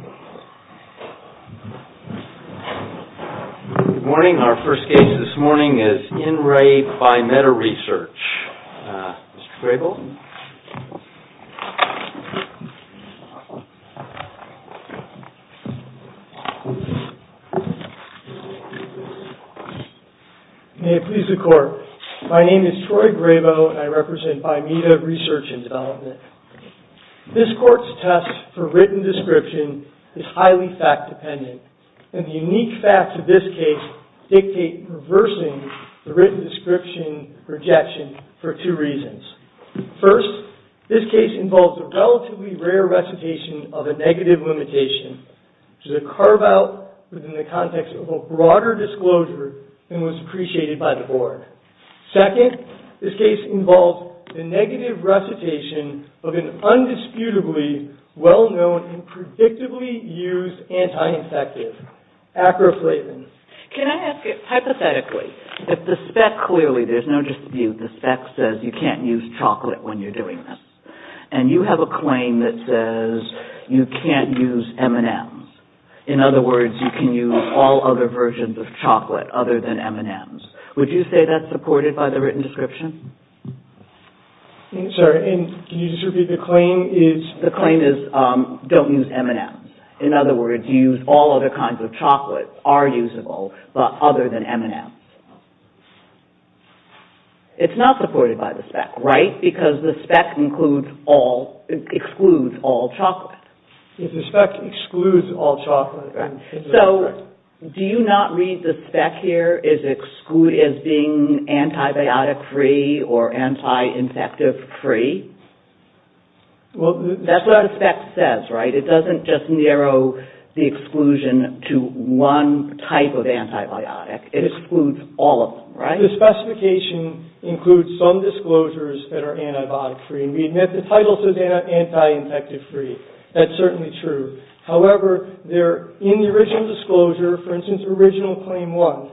Good morning, our first case this morning is IN RE BIMEDA RESEARCH, Mr. Graybill. May it please the court, my name is Troy Graybill and I represent BIMEDA RESEARCH & DEVELOPMENT. This court's test for written description is highly fact-dependent, and the unique facts of this case dictate reversing the written description rejection for two reasons. First, this case involves a relatively rare recitation of a negative limitation, which is a carve-out within the context of a broader disclosure and was appreciated by the board. Second, this case involves the negative recitation of an undisputably well-known and predictably used anti-infective, Acroflavin. Can I ask it hypothetically? If the spec clearly, there's no dispute, the spec says you can't use chocolate when you're doing this, and you have a claim that says you can't use M&M's. In other words, you can use all other versions of chocolate other than M&M's. Would you say that's supported by the written description? Sorry, can you just repeat the claim? The claim is, don't use M&M's. In other words, you use all other kinds of chocolate, are usable, but other than M&M's. It's not supported by the spec, right? Because the spec excludes all chocolate. The spec excludes all chocolate. So, do you not read the spec here as being antibiotic-free or anti-infective-free? That's what the spec says, right? It doesn't just narrow the exclusion to one type of antibiotic. It excludes all of them, right? And the specification includes some disclosures that are antibiotic-free, and we admit the title says anti-infective-free. That's certainly true. However, they're in the original disclosure, for instance, Original Claim 1.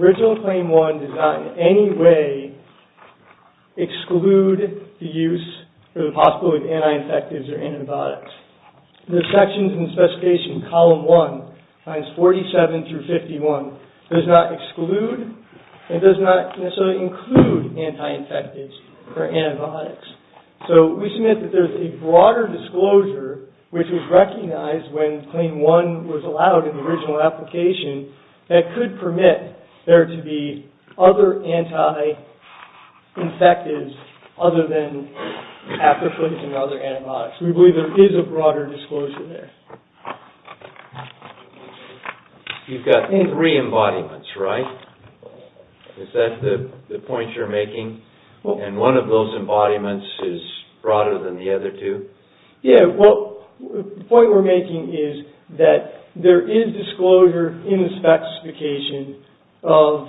Original Claim 1 does not in any way exclude the use or the possibility of anti-infectives or antibiotics. The sections in the specification, Column 1, times 47 through 51, does not exclude and does not necessarily include anti-infectives or antibiotics. So, we submit that there's a broader disclosure, which was recognized when Claim 1 was allowed in the original application, that could permit there to be other anti-infectives other than after foods and other antibiotics. We believe there is a broader disclosure there. You've got three embodiments, right? Is that the point you're making? And one of those embodiments is broader than the other two? Yeah, well, the point we're making is that there is disclosure in the specification of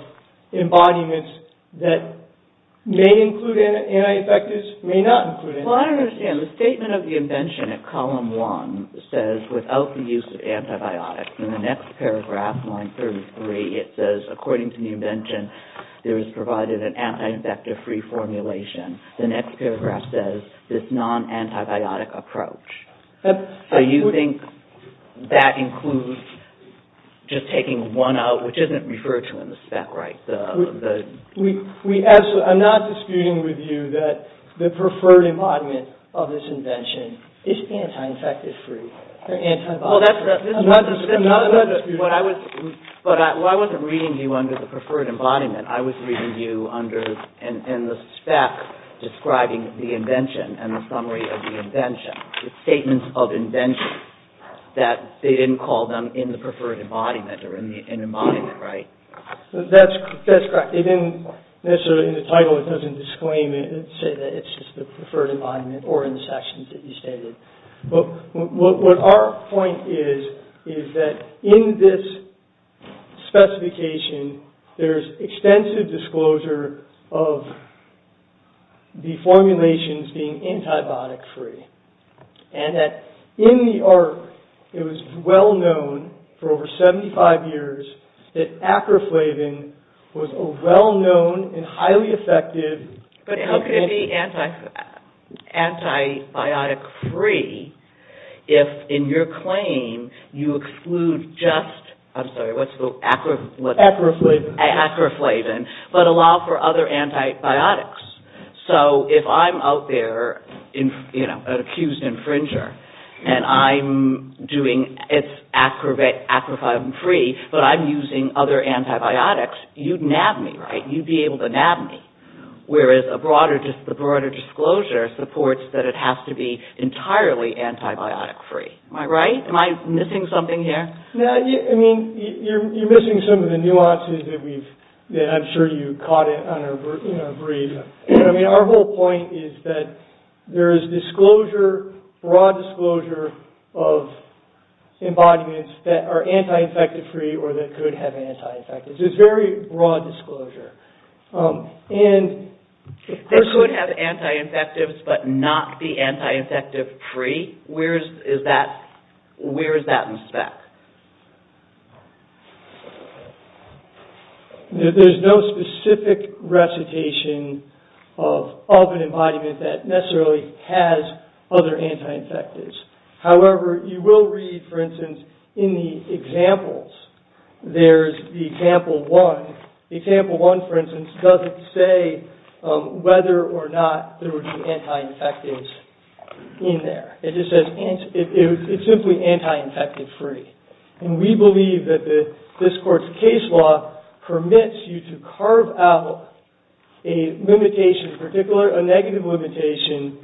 embodiments that may include anti-infectives, may not include anti-infectives. Well, I don't understand. The statement of the invention at Column 1 says without the use of antibiotics. In the next paragraph, line 33, it says, according to the invention, there is provided an anti-infective-free formulation. The next paragraph says this non-antibiotic approach. So, you think that includes just taking one out, which isn't referred to in the spec, right? I'm not disputing with you that the preferred embodiment of this invention is anti-infective-free. Well, I wasn't reading you under the preferred embodiment. I was reading you under the spec describing the invention and the summary of the invention. It's statements of invention that they didn't call them in the preferred embodiment or in the embodiment, right? That's correct. They didn't necessarily in the title, it doesn't disclaim it and say that it's just the preferred embodiment or in the sections that you stated. But what our point is, is that in this specification, there's extensive disclosure of the formulations being antibiotic-free. And that in the ARC, it was well-known for over 75 years that acroflavin was a well-known and highly effective... But how can it be antibiotic-free if in your claim, you exclude just, I'm sorry, what's the acro... Acroflavin. But allow for other antibiotics. So if I'm out there, you know, an accused infringer, and I'm doing... It's acroflavin-free, but I'm using other antibiotics, you'd nab me, right? You'd be able to nab me. Whereas the broader disclosure supports that it has to be entirely antibiotic-free. Am I right? Am I missing something here? No, I mean, you're missing some of the nuances that I'm sure you caught in our brief. I mean, our whole point is that there is disclosure, broad disclosure of embodiments that are anti-infective-free or that could have anti-infectives. It's very broad disclosure. They could have anti-infectives but not be anti-infective-free. Where is that in the spec? There's no specific recitation of an embodiment that necessarily has other anti-infectives. However, you will read, for instance, in the examples, there's the example one. Example one, for instance, doesn't say whether or not there would be anti-infectives in there. It just says it's simply anti-infective-free. And we believe that this court's case law permits you to carve out a limitation in particular, a negative limitation,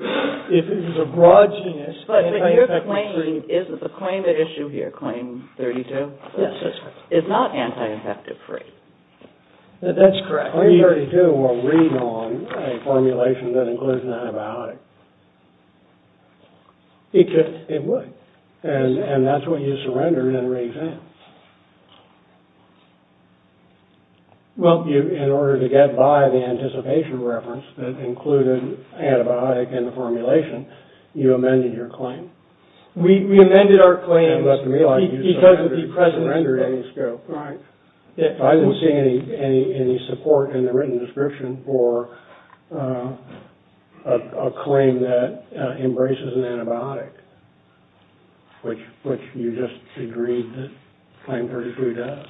if it is a broad genus, anti-infective-free. But your claim, isn't the claim at issue here, claim 32? Yes, that's correct. It's not anti-infective-free. That's correct. Claim 32 will read on a formulation that includes an antibiotic. It would. And that's what you surrendered in the re-exam. Well, in order to get by the anticipation reference that included antibiotic in the formulation, you amended your claim. We amended our claim because of the present scope. I didn't see any support in the written description for a claim that embraces an antibiotic, which you just agreed that claim 32 does.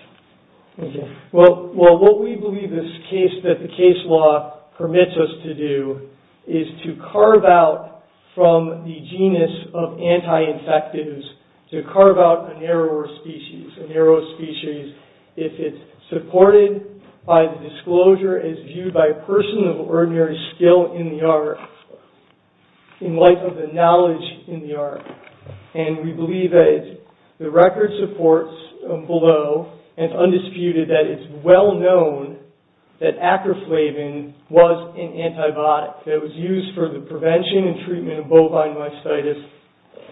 Well, what we believe this case, that the case law permits us to do, is to carve out from the genus of anti-infectives, to carve out a narrower species. A narrower species, if it's supported by the disclosure as viewed by a person of ordinary skill in the art, in light of the knowledge in the art. And we believe that the record supports below, and it's undisputed, that it's well known that Acroflavin was an antibiotic that was used for the prevention and treatment of bovine myositis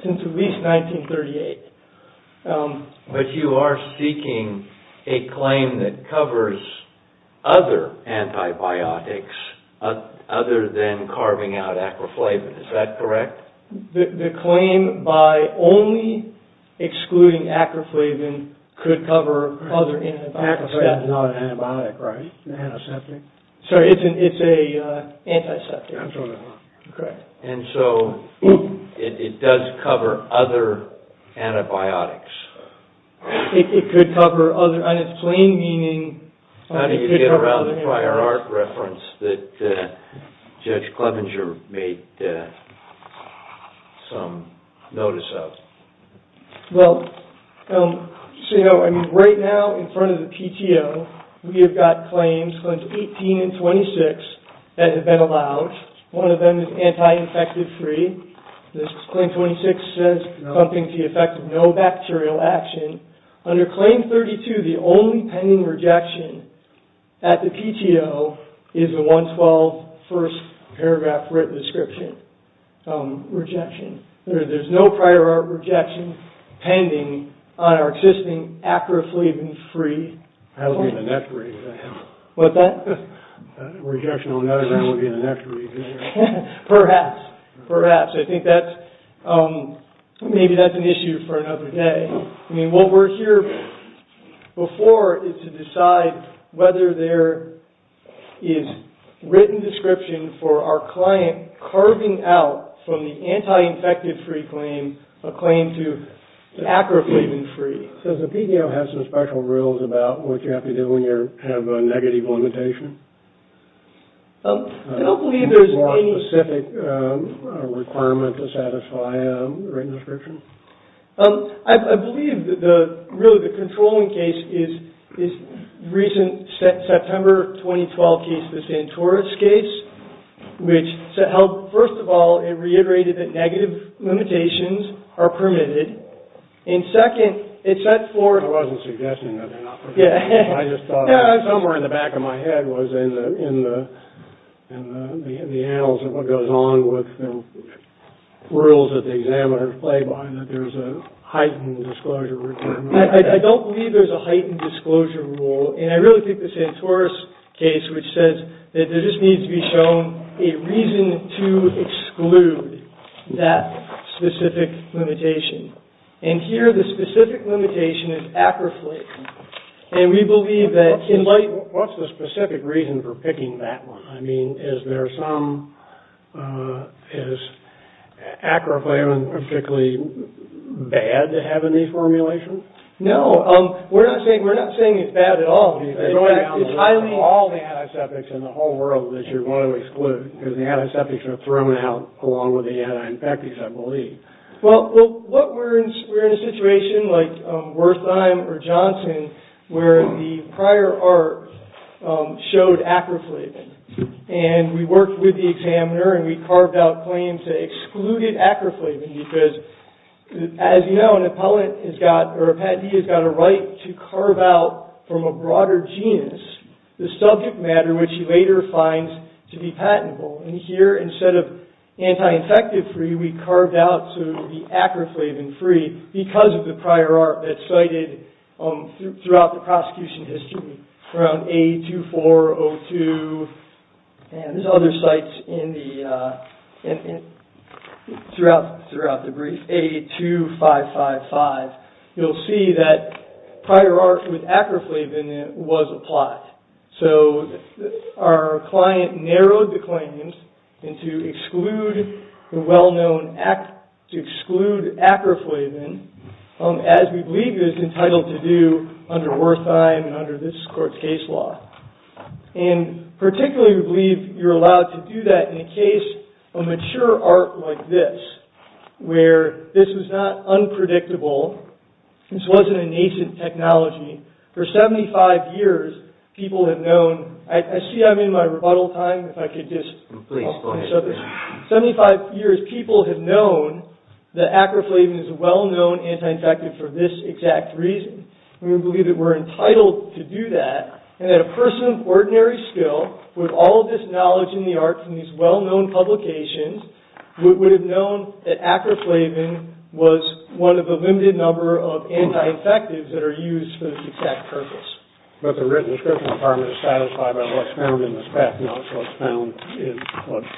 since at least 1938. But you are seeking a claim that covers other antibiotics, other than carving out Acroflavin. Is that correct? The claim by only excluding Acroflavin could cover other antibiotics. Acroflavin is not an antibiotic, right? An antiseptic? Sorry, it's an antiseptic. I'm sorry. Correct. And so, it does cover other antibiotics. It could cover other, and it's plain meaning... How did you get around the prior art reference that Judge Clevenger made some notice of? Well, right now, in front of the PTO, we have got claims, claims 18 and 26, that have been allowed. One of them is anti-infective 3. This claim 26 says something to the effect of no bacterial action. Under claim 32, the only pending rejection at the PTO is the 112 first paragraph written description rejection. There's no prior art rejection pending on our existing Acroflavin-free... That will be in the next reading. What's that? Rejection on that will be in the next reading. Perhaps, perhaps. I think that's, maybe that's an issue for another day. I mean, what we're here before is to decide whether there is written description for our client carving out from the anti-infective 3 claim, a claim to Acroflavin-free. Does the PTO have some special rules about what you have to do when you have a negative limitation? I don't believe there's any... More specific requirement to satisfy a written description? I believe that the, really the controlling case is recent September 2012 case, the Santora's case. Which held, first of all, it reiterated that negative limitations are permitted. And second, it set forth... I wasn't suggesting that they're not permitted. Yeah. Somewhere in the back of my head was, in the annals of what goes on with the rules that the examiners play by, that there's a heightened disclosure requirement. I don't believe there's a heightened disclosure rule. And I really think the Santora's case, which says that there just needs to be shown a reason to exclude that specific limitation. And here the specific limitation is Acroflavin. And we believe that... What's the specific reason for picking that one? I mean, is there some... Is Acroflavin particularly bad to have in the formulation? No, we're not saying it's bad at all. It's highly... All the antiseptics in the whole world that you want to exclude. Because the antiseptics are thrown out along with the anti-infectives, I believe. Well, we're in a situation like Wertheim or Johnson where the prior art showed Acroflavin. And we worked with the examiner and we carved out claims that excluded Acroflavin because, as you know, an appellant has got... Or a patentee has got a right to carve out from a broader genus the subject matter which he later finds to be patentable. And here, instead of anti-infective-free, we carved out to be Acroflavin-free because of the prior art that's cited throughout the prosecution history. Around A2402 and there's other sites in the... Throughout the brief. A2555. You'll see that prior art with Acroflavin was applied. So our client narrowed the claims into exclude the well-known... To exclude Acroflavin as we believe it is entitled to do under Wertheim and under this court's case law. And particularly we believe you're allowed to do that in a case of mature art like this where this was not unpredictable. This wasn't a nascent technology. For 75 years, people have known... I see I'm in my rebuttal time. If I could just... Please, go ahead. 75 years, people have known that Acroflavin is a well-known anti-infective for this exact reason. We believe that we're entitled to do that and that a person of ordinary skill with all of this knowledge in the arts and these well-known publications would have known that Acroflavin was one of the limited number of anti-infectives that are used for this exact purpose. But the written description of harm is satisfied by what's found in this path, not what's found in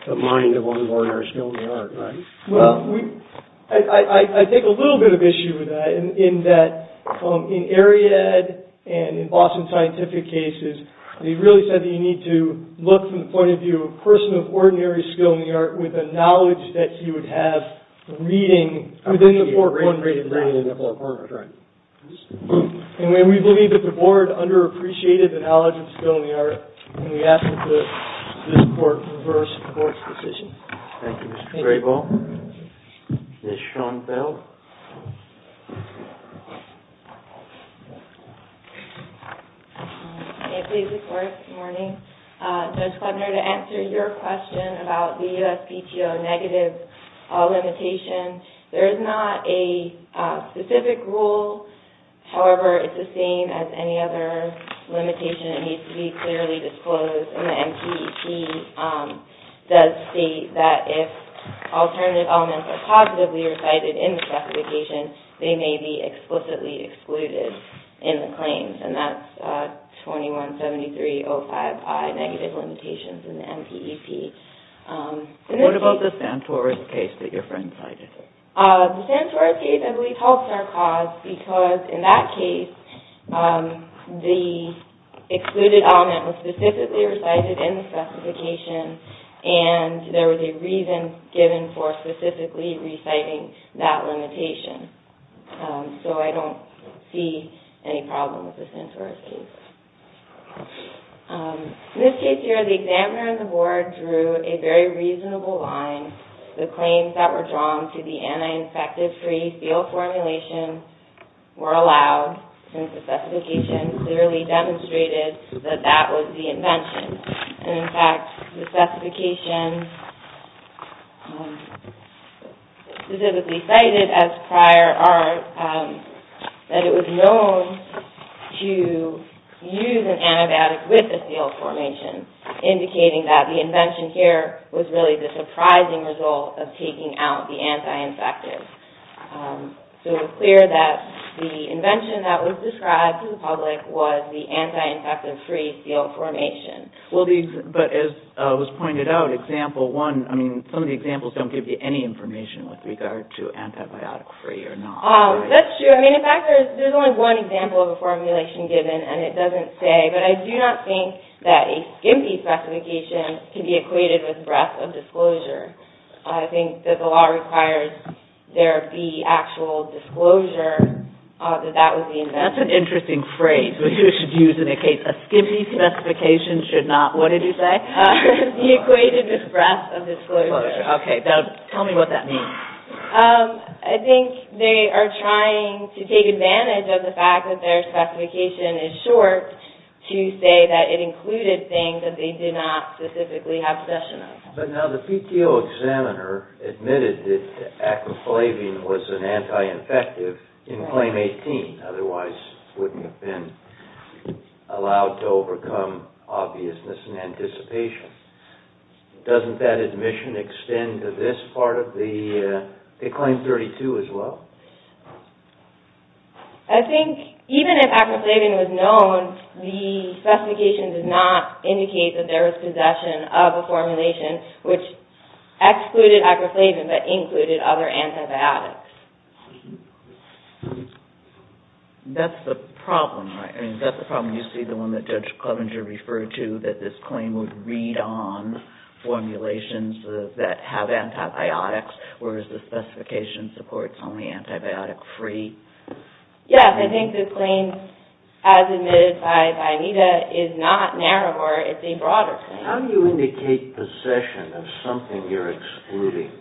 the mind of one of ordinary skill in the art, right? Well, we... I take a little bit of issue with that in that in Ariad and in Boston Scientific cases, they really said that you need to look from the point of view of a person of ordinary skill in the art with the knowledge that you would have reading within the four corners of the brain. And we believe that the board underappreciated the knowledge of skill in the art and we ask that this court reverse the court's decision. Thank you, Mr. Grayball. Ms. Schoenfeld. May it please the court. Good morning. Judge Kleppner, to answer your question about the USPTO negative limitation, there is not a specific rule. However, it's the same as any other limitation. It needs to be clearly disclosed. And the MPEP does state that if alternative elements are positively recited in the specification, they may be explicitly excluded in the claims. And that's 21-7305I, negative limitations in the MPEP. What about the Santora's case that your friend cited? The Santora's case, I believe, halts our cause because in that case, the excluded element was specifically recited in the specification and there was a reason given for specifically reciting that limitation. So I don't see any problem with the Santora's case. In this case here, the examiner and the board drew a very reasonable line. The claims that were drawn to the anti-infective-free field formulation were allowed since the specification clearly demonstrated that that was the invention. And in fact, the specifications specifically cited as prior are that it was known to use an antibiotic with a field formation, indicating that the invention here was really the surprising result of taking out the anti-infective. So it was clear that the invention that was described to the public was the anti-infective-free field formation. Well, but as was pointed out, example one, I mean, some of the examples don't give you any information with regard to antibiotic-free or not. That's true. I mean, in fact, there's only one example of a formulation given and it doesn't say. But I do not think that a SCMPI specification can be equated with breath of disclosure. I think that the law requires there be actual disclosure that that was the invention. That's an interesting phrase that you should use in a case. A SCMPI specification should not, what did you say? Be equated with breath of disclosure. Okay. Now, tell me what that means. I think they are trying to take advantage of the fact that their specification is short to say that it included things that they did not specifically have session of. But now the PTO examiner admitted that acroflavine was an anti-infective in Claim 18. Otherwise, it wouldn't have been allowed to overcome obviousness and anticipation. Doesn't that admission extend to this part of the Claim 32 as well? I think even if acroflavine was known, the specification did not indicate that there was possession of a formulation which excluded acroflavine but included other antibiotics. That's the problem, right? I mean, that's the problem. You see the one that Judge Clevenger referred to, that this claim would read on formulations that have antibiotics, whereas the specification supports only antibiotic-free. Yes, I think this claim, as admitted by Aida, is not narrow, or it's a broader claim. How do you indicate possession of something you're excluding?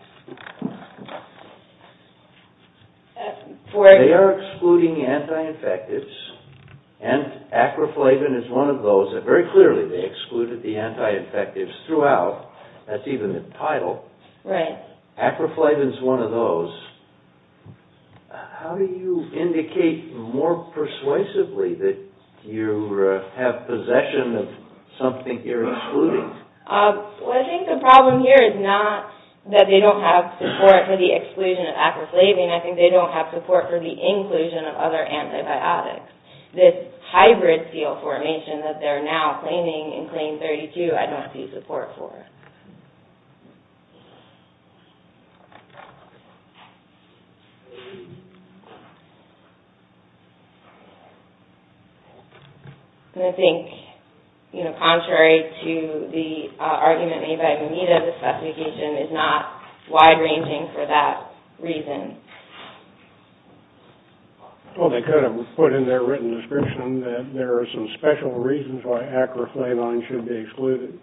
They are excluding anti-infectives, and acroflavine is one of those. Very clearly, they excluded the anti-infectives throughout. That's even in the title. Right. Acroflavine is one of those. How do you indicate more persuasively that you have possession of something you're excluding? I think the problem here is not that they don't have support for the exclusion of acroflavine. I think they don't have support for the inclusion of other antibiotics. This hybrid seal formation that they're now claiming in Claim 32, I don't see support for. I think, contrary to the argument made by Bonita, the specification is not wide-ranging for that reason. Well, they could have put in their written description that there are some special reasons why acroflavine should be excluded.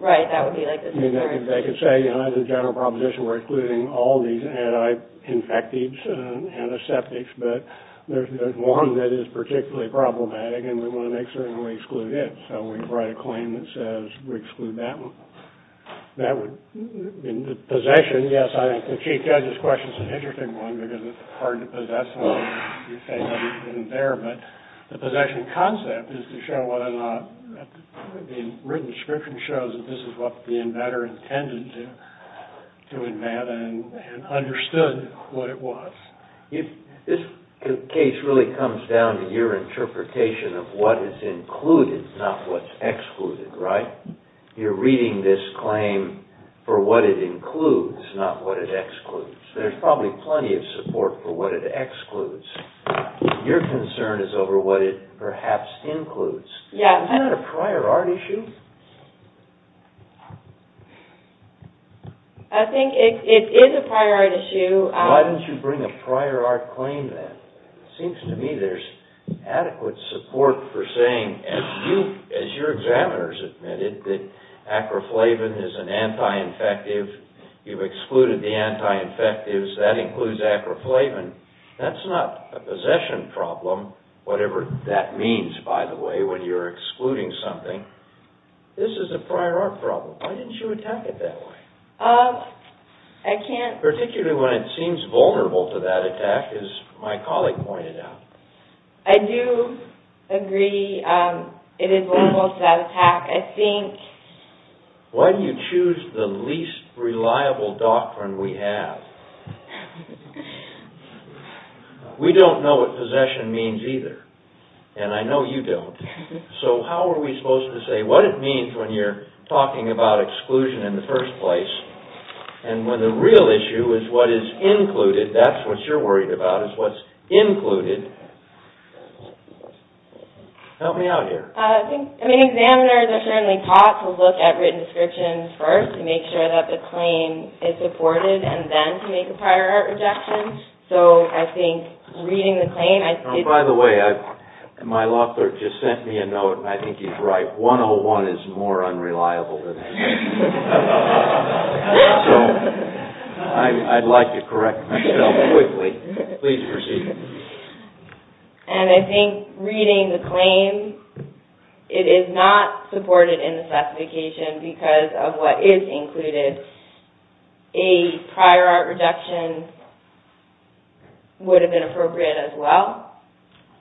Right. That would be like the theory. They could say, under the general proposition, we're excluding all these anti-infectives and antiseptics, but there's one that is particularly problematic, and we want to make certain we exclude it. So we write a claim that says we exclude that one. In the possession, yes, I think the Chief Judge's question is an interesting one, because it's hard to possess something. But the possession concept is to show whether or not the written description shows that this is what the inventor intended to invent and understood what it was. This case really comes down to your interpretation of what is included, not what's excluded, right? You're reading this claim for what it includes, not what it excludes. There's probably plenty of support for what it excludes. Your concern is over what it perhaps includes. Yeah. Isn't that a prior art issue? I think it is a prior art issue. Why don't you bring a prior art claim then? It seems to me there's adequate support for saying, as your examiners admitted, that acroflavine is an anti-infective. You've excluded the anti-infectives. That includes acroflavine. That's not a possession problem, whatever that means, by the way, when you're excluding something. This is a prior art problem. Why didn't you attack it that way? Particularly when it seems vulnerable to that attack, as my colleague pointed out. I do agree it is vulnerable to that attack. Why do you choose the least reliable doctrine we have? We don't know what possession means either, and I know you don't. So how are we supposed to say what it means when you're talking about exclusion in the first place, and when the real issue is what is included, that's what you're worried about, is what's included. Help me out here. Examiners are certainly taught to look at written descriptions first to make sure that the claim is supported, and then to make a prior art rejection. So I think reading the claim... By the way, my law clerk just sent me a note, and I think he's right. 101 is more unreliable than that. I'd like to correct myself quickly. Please proceed. And I think reading the claim, it is not supported in the specification because of what is included. A prior art rejection would have been appropriate as well.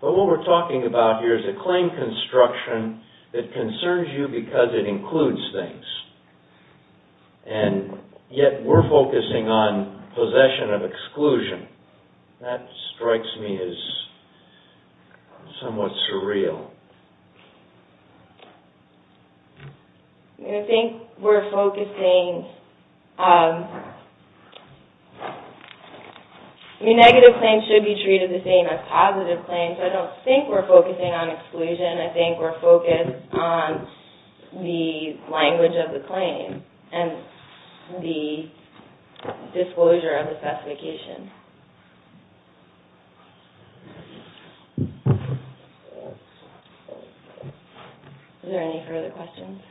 But what we're talking about here is a claim construction that concerns you because it includes things, and yet we're focusing on possession of exclusion. That strikes me as somewhat surreal. I think we're focusing... I mean, negative claims should be treated the same as positive claims. I don't think we're focusing on exclusion. I think we're focused on the language of the claim and the disclosure of the specification. Thank you. Are there any further questions?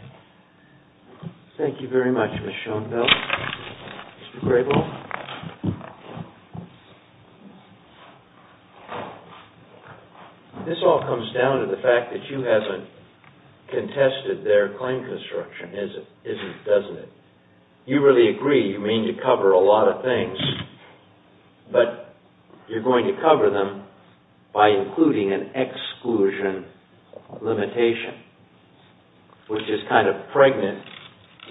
Thank you very much, Ms. Schoenfeld. Mr. Grable? This all comes down to the fact that you haven't contested their claim construction, is it? Doesn't it? You really agree. You mean to cover a lot of things, but you're going to cover them by including an exclusion limitation, which is kind of pregnant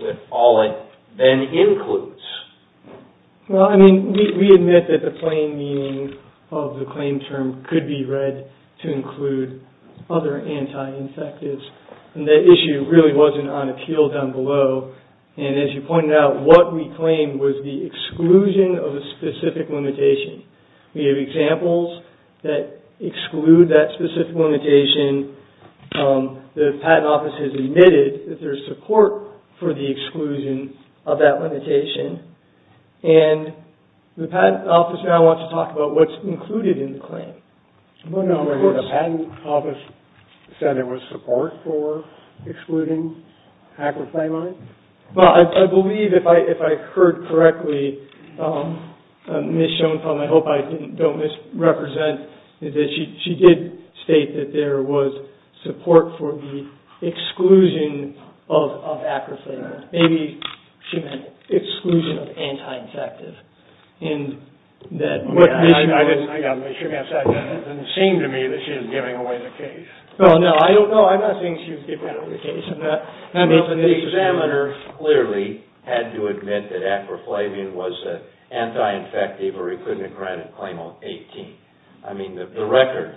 with all it then includes. Well, I mean, we admit that the plain meaning of the claim term could be read to include other anti-infectives. And that issue really wasn't on appeal down below. And as you pointed out, what we claimed was the exclusion of a specific limitation. We have examples that exclude that specific limitation. The Patent Office has admitted that there's support for the exclusion of that limitation. And the Patent Office now wants to talk about what's included in the claim. The Patent Office said there was support for excluding acroflamine? Well, I believe if I heard correctly, Ms. Schoenfeld, and I hope I don't misrepresent, is that she did state that there was support for the exclusion of acroflamine. Maybe she meant exclusion of anti-infectives. I got to make sure I said that. It didn't seem to me that she was giving away the case. No, I'm not saying she was giving away the case. The examiner clearly had to admit that acroflamine was an anti-infective or he couldn't have granted a claim on 18. I mean, the record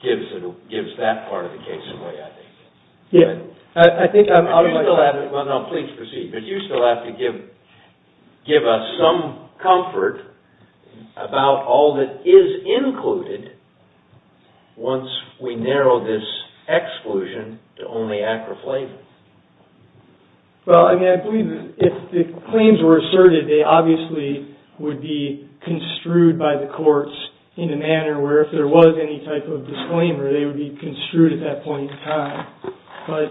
gives that part of the case away, I think. Please proceed. But you still have to give us some comfort about all that is included once we narrow this exclusion to only acroflamine. Well, I mean, I believe if the claims were asserted, they obviously would be construed by the courts in a manner where if there was any type of disclaimer, they would be construed at that point in time. But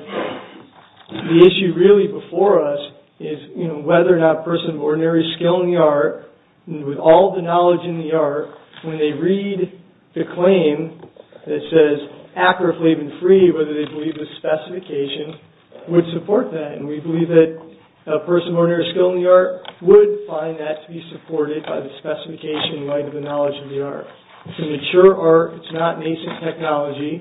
the issue really before us is whether or not a person of ordinary skill in the art, with all the knowledge in the art, when they read the claim that says acroflamine-free, whether they believe the specification, would support that. And we believe that a person of ordinary skill in the art would find that to be supported by the specification in light of the knowledge of the art. It's a mature art, it's not nascent technology,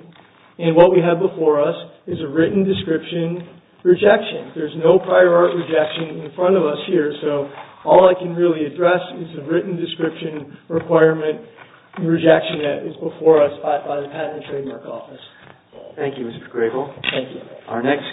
and what we have before us is a written description rejection. There's no prior art rejection in front of us here, so all I can really address is the written description requirement and rejection that is before us by the Patent and Trademark Office. Thank you, Mr. Gregel. Thank you.